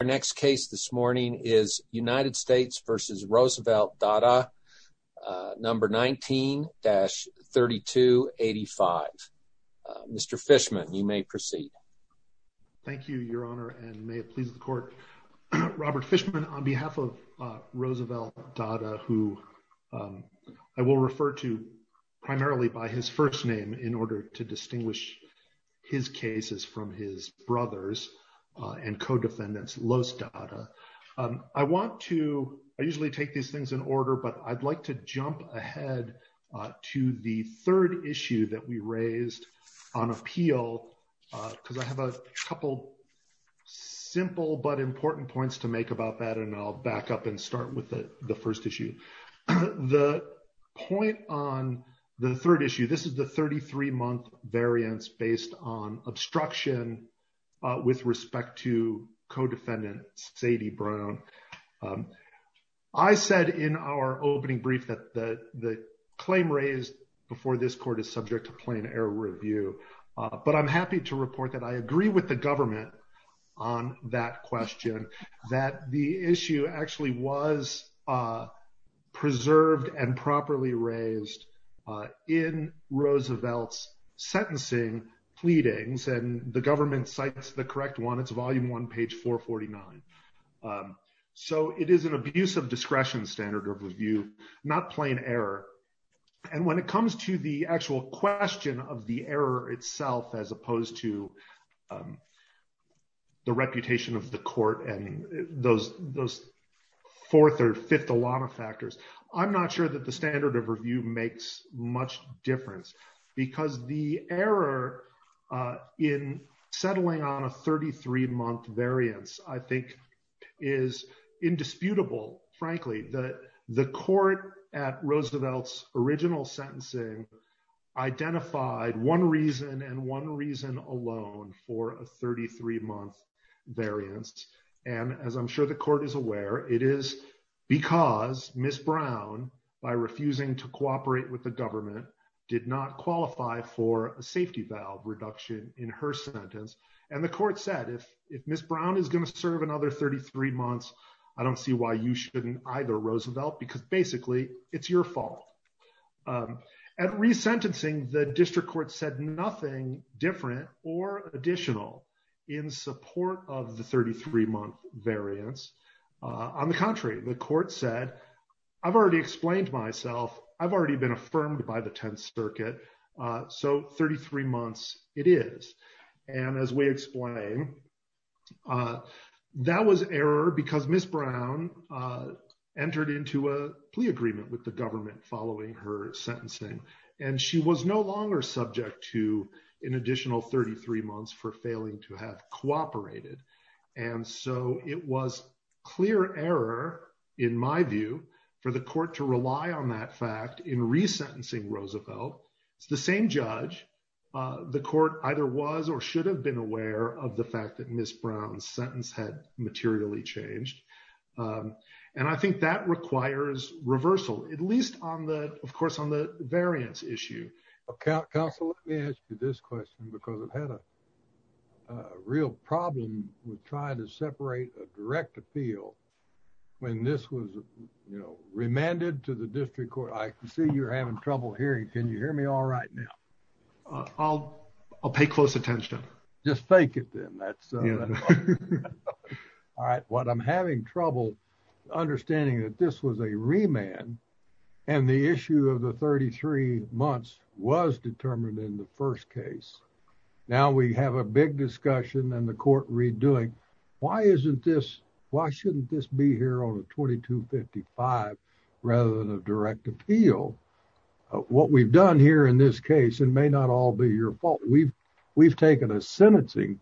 Our next case this morning is United States v. Roosevelt Dahda, No. 19-3285. Mr. Fishman, you may proceed. Thank you, Your Honor, and may it please the Court. Robert Fishman, on behalf of Roosevelt Dahda, who I will refer to primarily by his first name in order to distinguish his cases from his brothers and co-defendants, Los Dahda. I want to – I usually take these things in order, but I'd like to jump ahead to the third issue that we raised on appeal because I have a couple simple but important points to make about that, and I'll back up and start with the first issue. The point on the third issue, this is the 33-month variance based on obstruction with respect to co-defendant Sadie Brown. I said in our opening brief that the claim raised before this Court is subject to plain error review, but I'm happy to report that I agree with the government on that question, that the issue actually was preserved and properly raised in Roosevelt's sentencing pleadings, and the government cites the correct one. It's volume one, page 449. So it is an abuse of discretion standard of review, not plain error, and when it comes to the actual question of the error itself as opposed to the reputation of the Court and those fourth or fifth Ilana factors, I'm not sure that the standard of review makes much difference because the error in settling on a 33-month variance I think is indisputable, frankly. The Court at Roosevelt's original sentencing identified one reason and one reason alone for a 33-month variance, and as I'm sure the Court is aware, it is because Ms. Brown, by refusing to cooperate with the government, did not qualify for a safety valve reduction in her sentence. And the Court said, if Ms. Brown is going to serve another 33 months, I don't see why you shouldn't either, Roosevelt, because basically it's your fault. At resentencing, the District Court said nothing different or additional in support of the 33-month variance. On the contrary, the Court said, I've already explained myself, I've already been affirmed by the Tenth Circuit, so 33 months it is. And as we explain, that was error because Ms. Brown entered into a plea agreement with the government following her sentencing, and she was no longer subject to an additional 33 months for failing to have cooperated. And so it was clear error, in my view, for the Court to rely on that fact in resentencing Roosevelt. It's the same judge. The Court either was or should have been aware of the fact that Ms. Brown's sentence had materially changed. And I think that requires reversal, at least on the, of course, on the variance issue. Counsel, let me ask you this question, because I've had a real problem with trying to separate a direct appeal when this was, you know, remanded to the District Court. I can see you're having trouble hearing. Can you hear me all right now? I'll pay close attention. Just fake it then. All right, well, I'm having trouble understanding that this was a remand, and the issue of the 33 months was determined in the first case. Now we have a big discussion and the Court redoing. Why isn't this, why shouldn't this be here on a 2255 rather than a direct appeal? What we've done here in this case, and may not all be your fault, we've taken a sentencing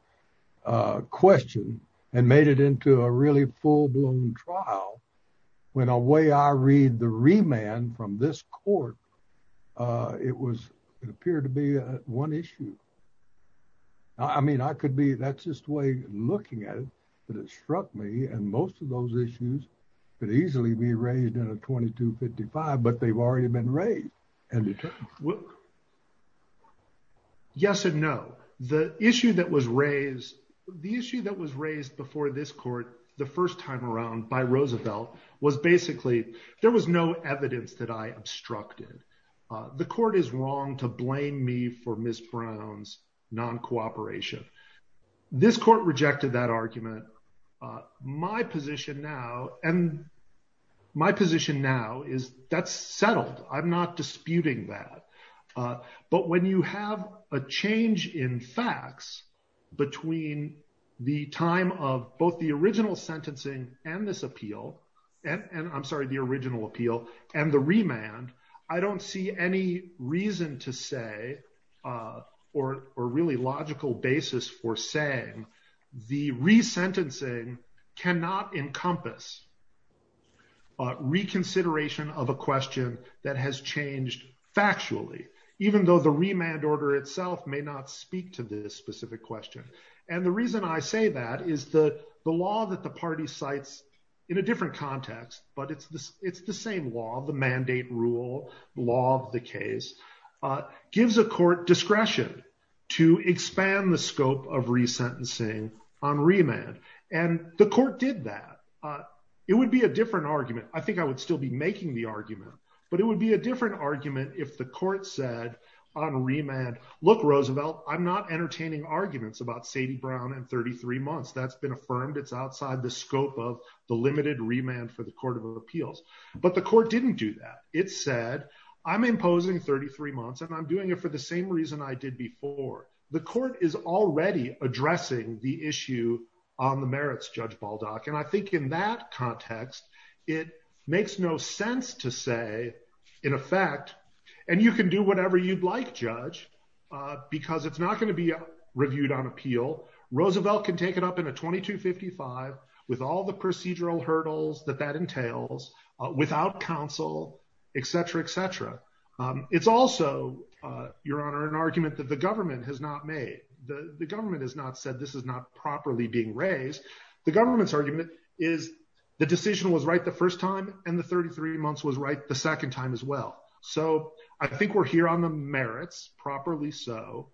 question and made it into a really full blown trial. When a way I read the remand from this Court, it was, it appeared to be one issue. I mean, I could be, that's just the way looking at it, but it struck me, and most of those issues could easily be raised in a 2255, but they've already been raised. Yes and no. The issue that was raised, the issue that was raised before this Court, the first time around by Roosevelt was basically, there was no evidence that I obstructed. The Court is wrong to blame me for Ms. Brown's non-cooperation. This Court rejected that argument. My position now, and my position now is that's settled. I'm not disputing that. But when you have a change in facts between the time of both the original sentencing and this appeal, and I'm sorry, the original appeal and the remand, I don't see any reason to say, or really logical basis for saying, the resentencing cannot encompass reconsideration of a question that has changed factually, even though the remand order itself may not speak to this specific question. And the reason I say that is the law that the party cites in a different context, but it's the same law, the mandate rule, law of the case, gives a court discretion to expand the scope of resentencing on remand. And the Court did that. It would be a different argument. I think I would still be making the argument, but it would be a different argument if the Court said on remand, look, Roosevelt, I'm not entertaining arguments about Sadie Brown and 33 months. That's been affirmed. It's outside the scope of the limited remand for the Court of Appeals, but the Court didn't do that. It said, I'm imposing 33 months and I'm doing it for the same reason I did before. The Court is already addressing the issue on the merits, Judge Baldock, and I think in that context, it makes no sense to say, in effect, and you can do whatever you'd like, Judge, because it's not going to be reviewed on appeal. Roosevelt can take it up in a 2255 with all the procedural hurdles that that entails, without counsel, etc., etc. It's also, Your Honor, an argument that the government has not made. The government has not said this is not properly being raised. The government's argument is the decision was right the first time and the 33 months was right the second time as well. So I think we're here on the merits, properly so.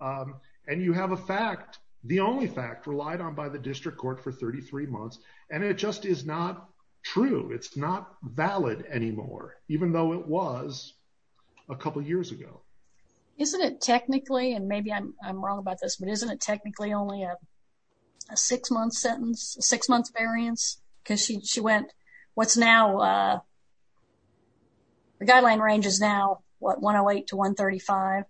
And you have a fact, the only fact relied on by the district court for 33 months, and it just is not true. It's not valid anymore, even though it was a couple years ago. Isn't it technically, and maybe I'm wrong about this, but isn't it technically only a six-month sentence, six-month variance? Because she went, what's now, the guideline range is now, what, 108 to 135?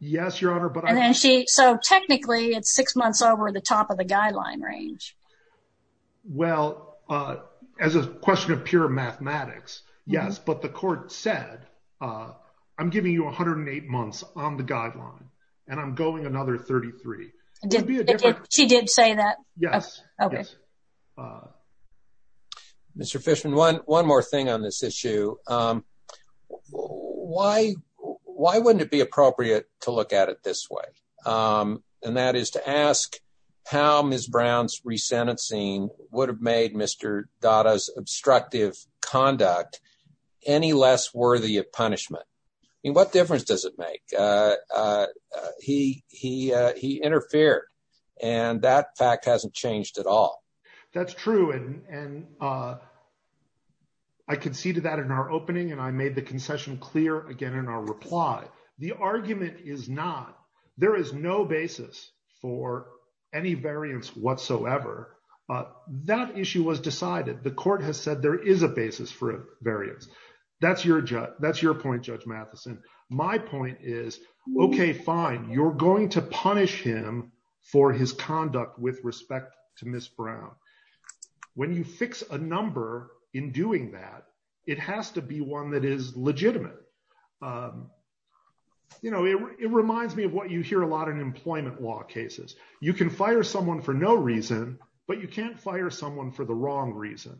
Yes, Your Honor, but I- And then she, so technically, it's six months over the top of the guideline range. Well, as a question of pure mathematics, yes, but the court said, I'm giving you 108 months on the guideline, and I'm going another 33. She did say that? Yes. Okay. Mr. Fishman, one more thing on this issue. Why wouldn't it be appropriate to look at it this way, and that is to ask how Ms. Brown's resentencing would have made Mr. Dada's obstructive conduct any less worthy of punishment? I mean, what difference does it make? He interfered, and that fact hasn't changed at all. That's true, and I conceded that in our opening, and I made the concession clear again in our reply. The argument is not, there is no basis for any variance whatsoever. That issue was decided. The court has said there is a basis for a variance. That's your point, Judge Matheson. My point is, okay, fine, you're going to punish him for his conduct with respect to Ms. Brown. When you fix a number in doing that, it has to be one that is legitimate. You know, it reminds me of what you hear a lot in employment law cases. You can fire someone for no reason, but you can't fire someone for the wrong reason,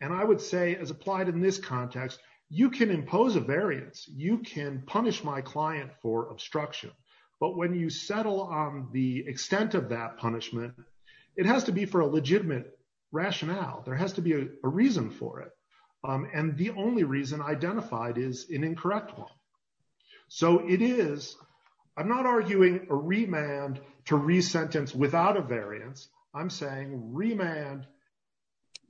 and I would say, as applied in this context, you can impose a variance. You can punish my client for obstruction, but when you settle on the extent of that punishment, it has to be for a legitimate rationale. There has to be a reason for it, and the only reason identified is an incorrect one. So it is, I'm not arguing a remand to resentence without a variance. I'm saying remand,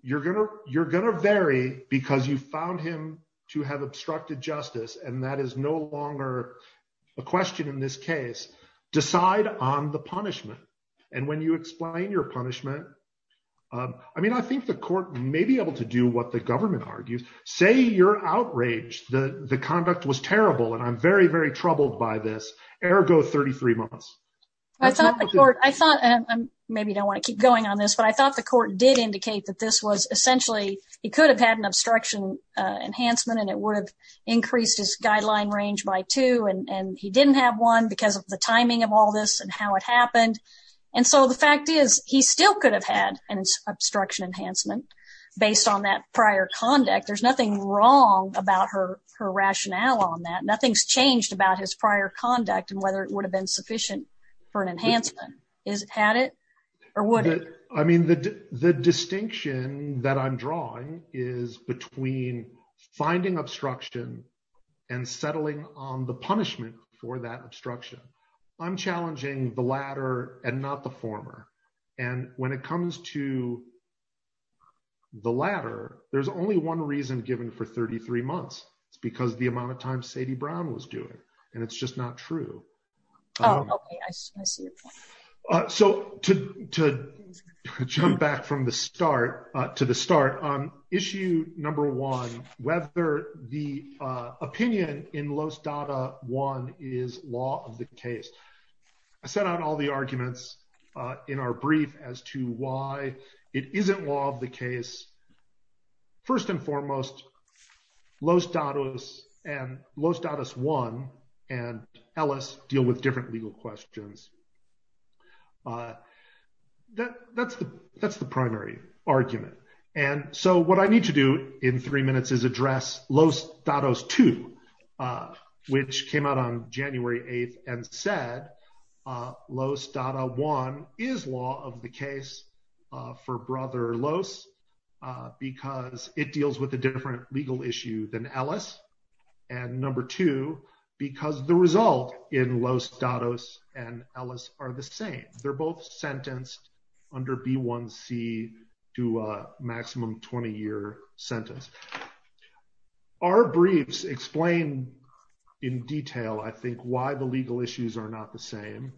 you're going to vary because you found him to have obstructed justice, and that is no longer a question in this case. Decide on the punishment, and when you explain your punishment, I mean, I think the court may be able to do what the government argues. Say you're outraged that the conduct was terrible, and I'm very, very troubled by this, ergo 33 months. I thought the court, and maybe I don't want to keep going on this, but I thought the court did indicate that this was essentially, he could have had an obstruction enhancement, and it would have increased his guideline range by two, and he didn't have one because of the timing of all this and how it happened. And so the fact is, he still could have had an obstruction enhancement based on that prior conduct. There's nothing wrong about her rationale on that. Nothing's changed about his prior conduct and whether it would have been sufficient for an enhancement. Has it had it or would it? I mean, the distinction that I'm drawing is between finding obstruction and settling on the punishment for that obstruction. I'm challenging the latter and not the former, and when it comes to the latter, there's only one reason given for 33 months. It's because of the amount of time Sadie Brown was doing it, and it's just not true. Oh, okay. I see your point. So to jump back from the start to the start on issue number one, whether the opinion in Los Dada one is law of the case. I set out all the arguments in our brief as to why it isn't law of the case. First and foremost, Los Dada and Los Dada one and Ellis deal with different legal questions. That's the that's the primary argument. And so what I need to do in three minutes is address Los Dados two, which came out on January 8th and said Los Dada one is law of the case for brother Los. Because it deals with a different legal issue than Ellis. And number two, because the result in Los Dados and Ellis are the same. They're both sentenced under B1C to a maximum 20 year sentence. Our briefs explain in detail, I think, why the legal issues are not the same.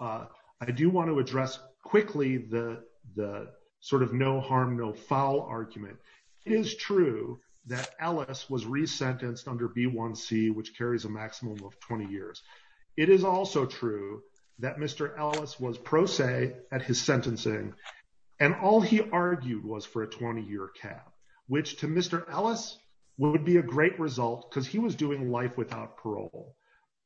I do want to address quickly the sort of no harm, no foul argument. It is true that Ellis was resentenced under B1C, which carries a maximum of 20 years. It is also true that Mr. Ellis was pro se at his sentencing, and all he argued was for a 20 year cap, which to Mr. Ellis would be a great result because he was doing life without parole.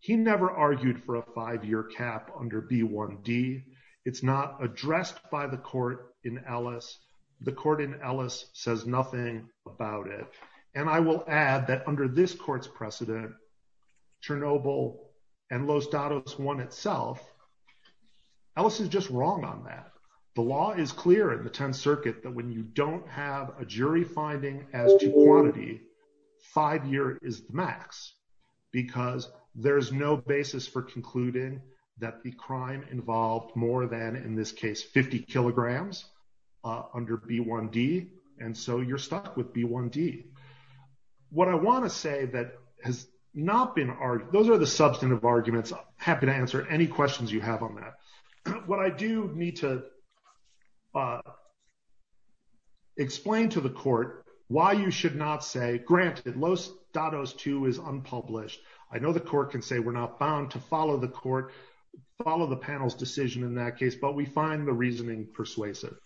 He never argued for a five year cap under B1D. It's not addressed by the court in Ellis. The court in Ellis says nothing about it. And I will add that under this court's precedent, Chernobyl and Los Dados one itself. Ellis is just wrong on that. The law is clear in the 10th Circuit that when you don't have a jury finding as to quantity, five year is max, because there is no basis for concluding that the crime involved more than, in this case, 50 kilograms under B1D. And so you're stuck with B1D. What I want to say that has not been argued, those are the substantive arguments, happy to answer any questions you have on that. What I do need to explain to the court why you should not say, granted, Los Dados two is unpublished. I know the court can say we're not bound to follow the court, follow the panel's decision in that case, but we find the reasoning persuasive.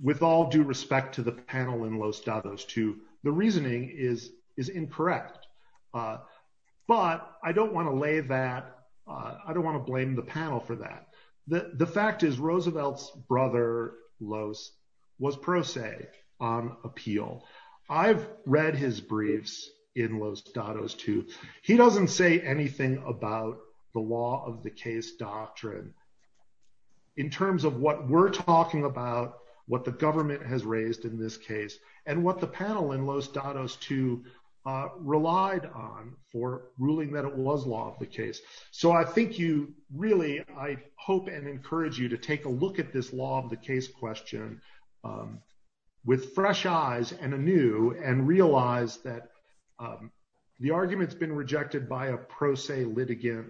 With all due respect to the panel in Los Dados two, the reasoning is incorrect. But I don't want to lay that, I don't want to blame the panel for that. The fact is Roosevelt's brother, Los, was pro se on appeal. I've read his briefs in Los Dados two. So I think you really, I hope and encourage you to take a look at this law of the case question with fresh eyes and anew and realize that the argument's been rejected by a pro se litigant.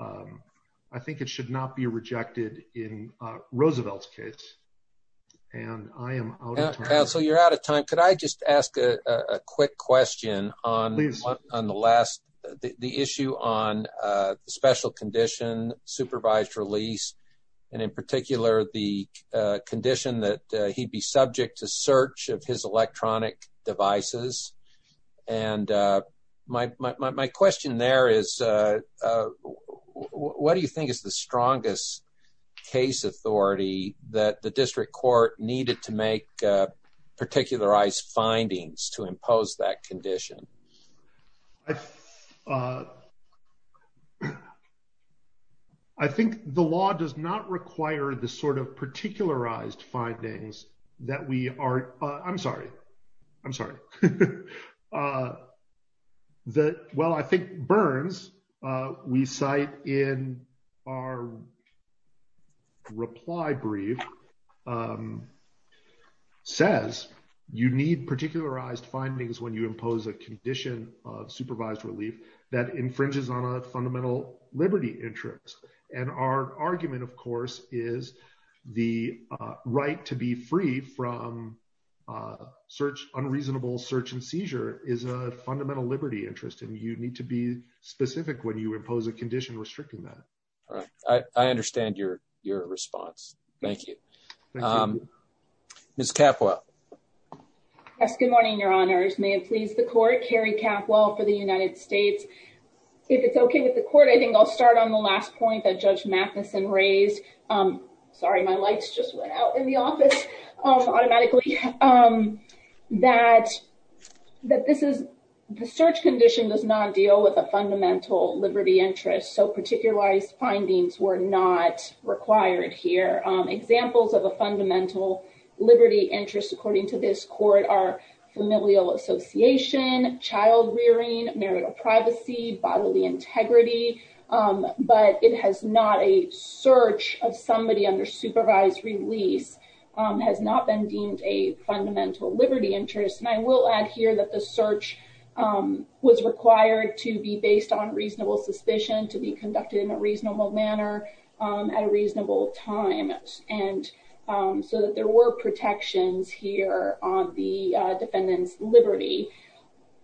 I think it should not be rejected in Roosevelt's case. And I am out of time. So you're out of time. Could I just ask a quick question on the last, the issue on the special condition, supervised release, and in particular the condition that he'd be subject to search of his electronic devices? And my question there is, what do you think is the strongest case authority that the district court needed to make particularized findings to impose that condition? I think the law does not require the sort of particularized findings that we are, I'm sorry, I'm sorry. Well, I think Burns, we cite in our reply brief, says you need particularized findings when you impose a condition of supervised relief that infringes on a fundamental liberty interest. And our argument, of course, is the right to be free from search, unreasonable search and seizure is a fundamental liberty interest. And you need to be specific when you impose a condition restricting that. All right. I understand your response. Thank you. Ms. Capua. Yes, good morning, your honors. May it please the court, Carrie Capua for the United States. If it's okay with the court, I think I'll start on the last point that Judge Matheson raised. Sorry, my lights just went out in the office automatically. That this is, the search condition does not deal with a fundamental liberty interest. So particularized findings were not required here. Examples of a fundamental liberty interest, according to this court, are familial association, child rearing, marital privacy, bodily integrity. But it has not a search of somebody under supervised release has not been deemed a fundamental liberty interest. And I will add here that the search was required to be based on reasonable suspicion to be conducted in a reasonable manner at a reasonable time. And so that there were protections here on the defendant's liberty.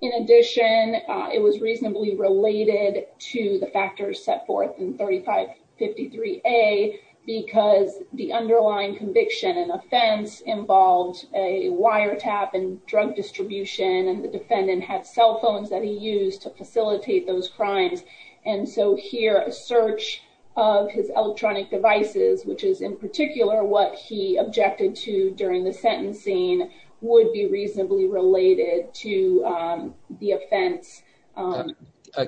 In addition, it was reasonably related to the factors set forth in 3553A because the underlying conviction and offense involved a wiretap and drug distribution. And the defendant had cell phones that he used to facilitate those crimes. And so here a search of his electronic devices, which is in particular what he objected to during the sentencing, would be reasonably related to the offense.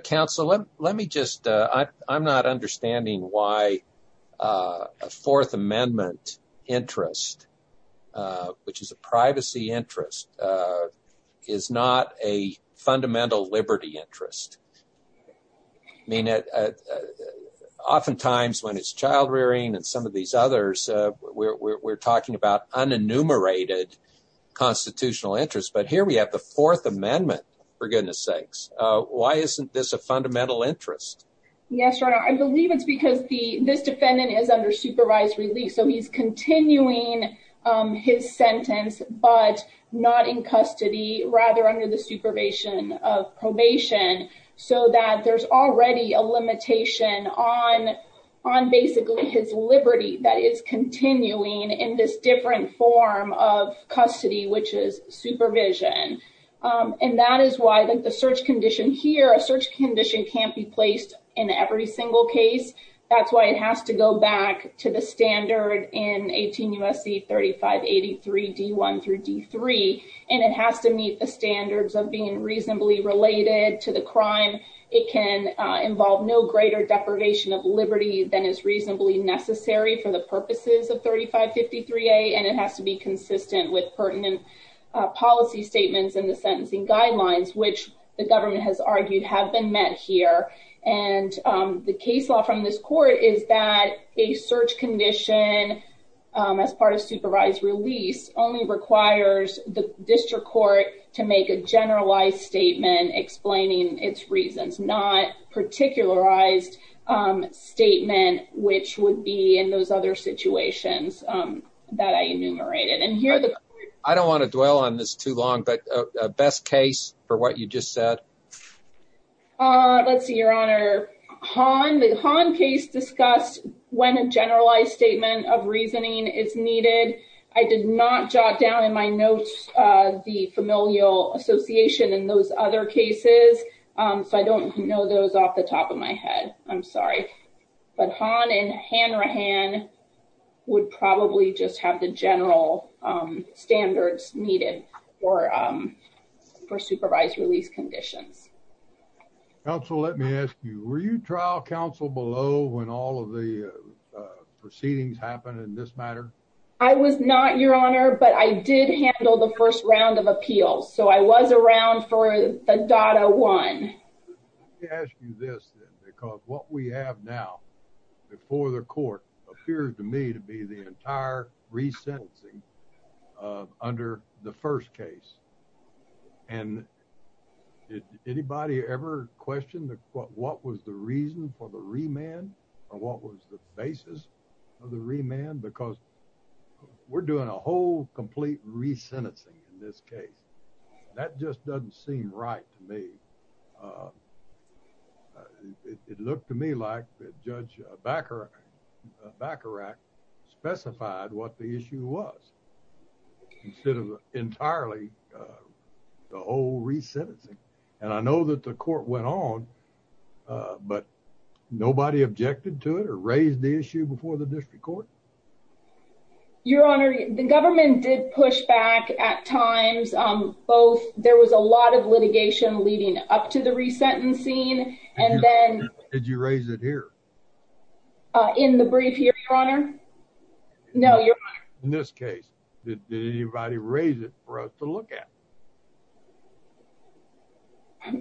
Counsel, let me just I'm not understanding why a Fourth Amendment interest, which is a privacy interest, is not a fundamental liberty interest. I mean, oftentimes when it's child rearing and some of these others, we're talking about unenumerated constitutional interest. But here we have the Fourth Amendment, for goodness sakes. Why isn't this a fundamental interest? Yes. I believe it's because the this defendant is under supervised release. So he's continuing his sentence, but not in custody, rather under the supervision of probation, so that there's already a limitation on on basically his liberty that is continuing in this different form of custody, which is supervision. And that is why the search condition here, a search condition can't be placed in every single case. That's why it has to go back to the standard in 18 U.S.C. 3583 D1 through D3, and it has to meet the standards of being reasonably related to the crime. It can involve no greater deprivation of liberty than is reasonably necessary for the purposes of 3553A, and it has to be consistent with pertinent policy statements in the sentencing guidelines, which the government has argued have been met here. And the case law from this court is that a search condition as part of supervised release only requires the district court to make a generalized statement explaining its reasons, not particularized statement, which would be in those other situations that I enumerated. I don't want to dwell on this too long, but best case for what you just said. Let's see, Your Honor. The Hahn case discussed when a generalized statement of reasoning is needed. I did not jot down in my notes the familial association in those other cases, so I don't know those off the top of my head. I'm sorry, but Hahn and Hanrahan would probably just have the general standards needed for supervised release conditions. Counsel, let me ask you, were you trial counsel below when all of the proceedings happened in this matter? I was not, Your Honor, but I did handle the first round of appeals, so I was around for the data one. Let me ask you this then, because what we have now before the court appears to me to be the entire resentencing under the first case. And did anybody ever question what was the reason for the remand or what was the basis of the remand? Because we're doing a whole complete resentencing in this case. That just doesn't seem right to me. It looked to me like Judge Bacharach specified what the issue was instead of entirely the whole resentencing. And I know that the court went on, but nobody objected to it or raised the issue before the district court. Your Honor, the government did push back at times. Both there was a lot of litigation leading up to the resentencing. And then did you raise it here in the brief here, Your Honor? No, Your Honor. In this case, did anybody raise it for us to look at?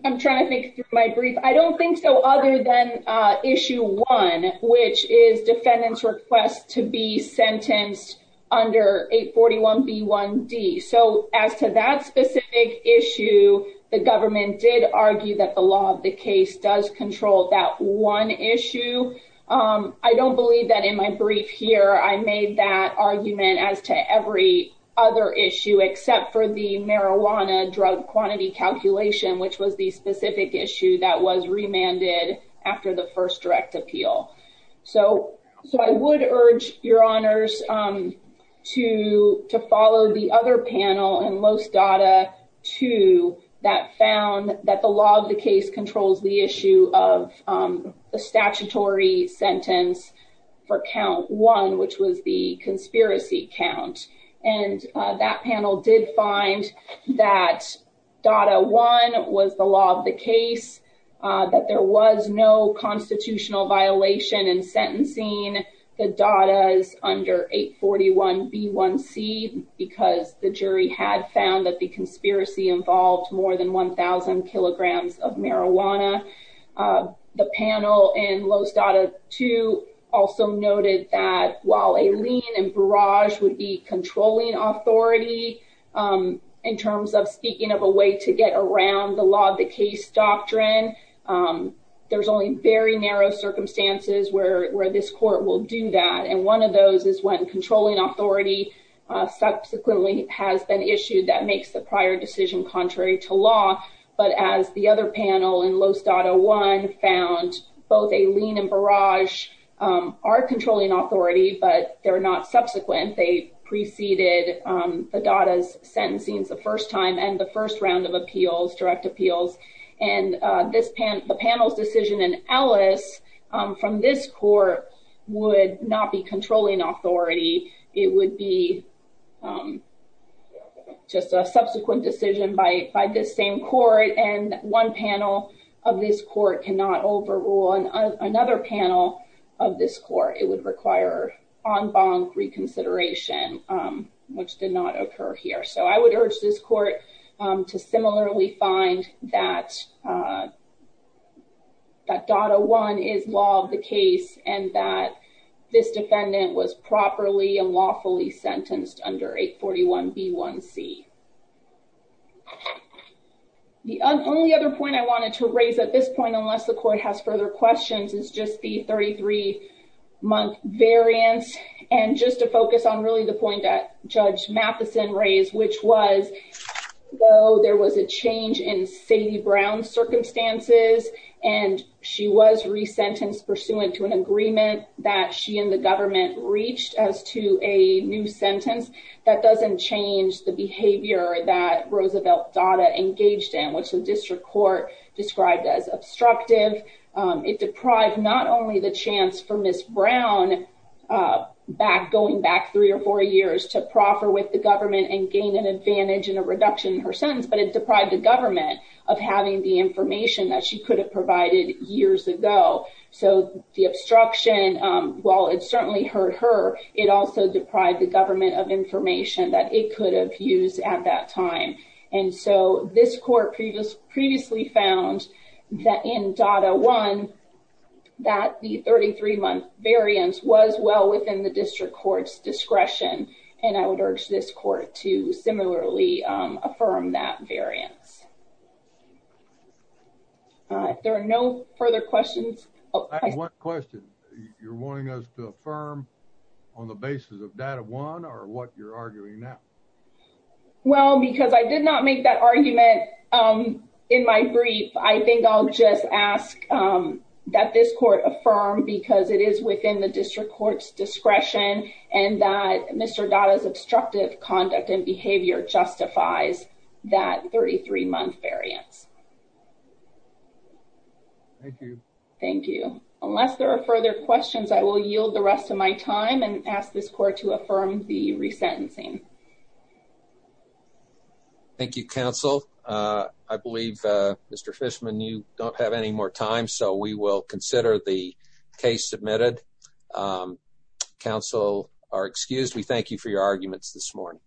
I'm trying to think through my brief. I don't think so other than issue one, which is defendant's request to be sentenced under 841B1D. So as to that specific issue, the government did argue that the law of the case does control that one issue. I don't believe that in my brief here I made that argument as to every other issue except for the marijuana drug quantity calculation, which was the specific issue that was remanded after the first direct appeal. So I would urge, Your Honors, to follow the other panel in Los Dada 2 that found that the law of the case controls the issue of the statutory sentence for count one, which was the conspiracy count. And that panel did find that Dada 1 was the law of the case, that there was no constitutional violation in sentencing the Dadas under 841B1C, because the jury had found that the conspiracy involved more than 1,000 kilograms of marijuana. The panel in Los Dada 2 also noted that while a lien and barrage would be controlling authority in terms of speaking of a way to get around the law of the case doctrine, there's only very narrow circumstances where this court will do that. And one of those is when controlling authority subsequently has been issued that makes the prior decision contrary to law. But as the other panel in Los Dada 1 found, both a lien and barrage are controlling authority, but they're not subsequent. They preceded the Dadas' sentencing the first time and the first round of appeals, direct appeals. And the panel's decision in Ellis from this court would not be controlling authority. It would be just a subsequent decision by this same court. And one panel of this court cannot overrule another panel of this court. It would require en banc reconsideration, which did not occur here. So I would urge this court to similarly find that Dada 1 is law of the case and that this defendant was properly and lawfully sentenced under 841B1C. The only other point I wanted to raise at this point, unless the court has further questions, is just the 33-month variance. And just to focus on really the point that Judge Matheson raised, which was there was a change in Sadie Brown's circumstances. And she was resentenced pursuant to an agreement that she and the government reached as to a new sentence. That doesn't change the behavior that Roosevelt Dada engaged in, which the district court described as obstructive. It deprived not only the chance for Ms. Brown, going back three or four years, to proffer with the government and gain an advantage and a reduction in her sentence, but it deprived the government of having the information that she could have provided years ago. So the obstruction, while it certainly hurt her, it also deprived the government of information that it could have used at that time. And so this court previously found that in Dada 1, that the 33-month variance was well within the district court's discretion. And I would urge this court to similarly affirm that variance. There are no further questions. I have one question. You're wanting us to affirm on the basis of Dada 1 or what you're arguing now? Well, because I did not make that argument in my brief. I think I'll just ask that this court affirm because it is within the district court's discretion and that Mr. Dada's obstructive conduct and behavior justifies that 33-month variance. Thank you. Thank you. Unless there are further questions, I will yield the rest of my time and ask this court to affirm the resentencing. Thank you, counsel. I believe, Mr. Fishman, you don't have any more time, so we will consider the case submitted. Counsel are excused. We thank you for your arguments this morning.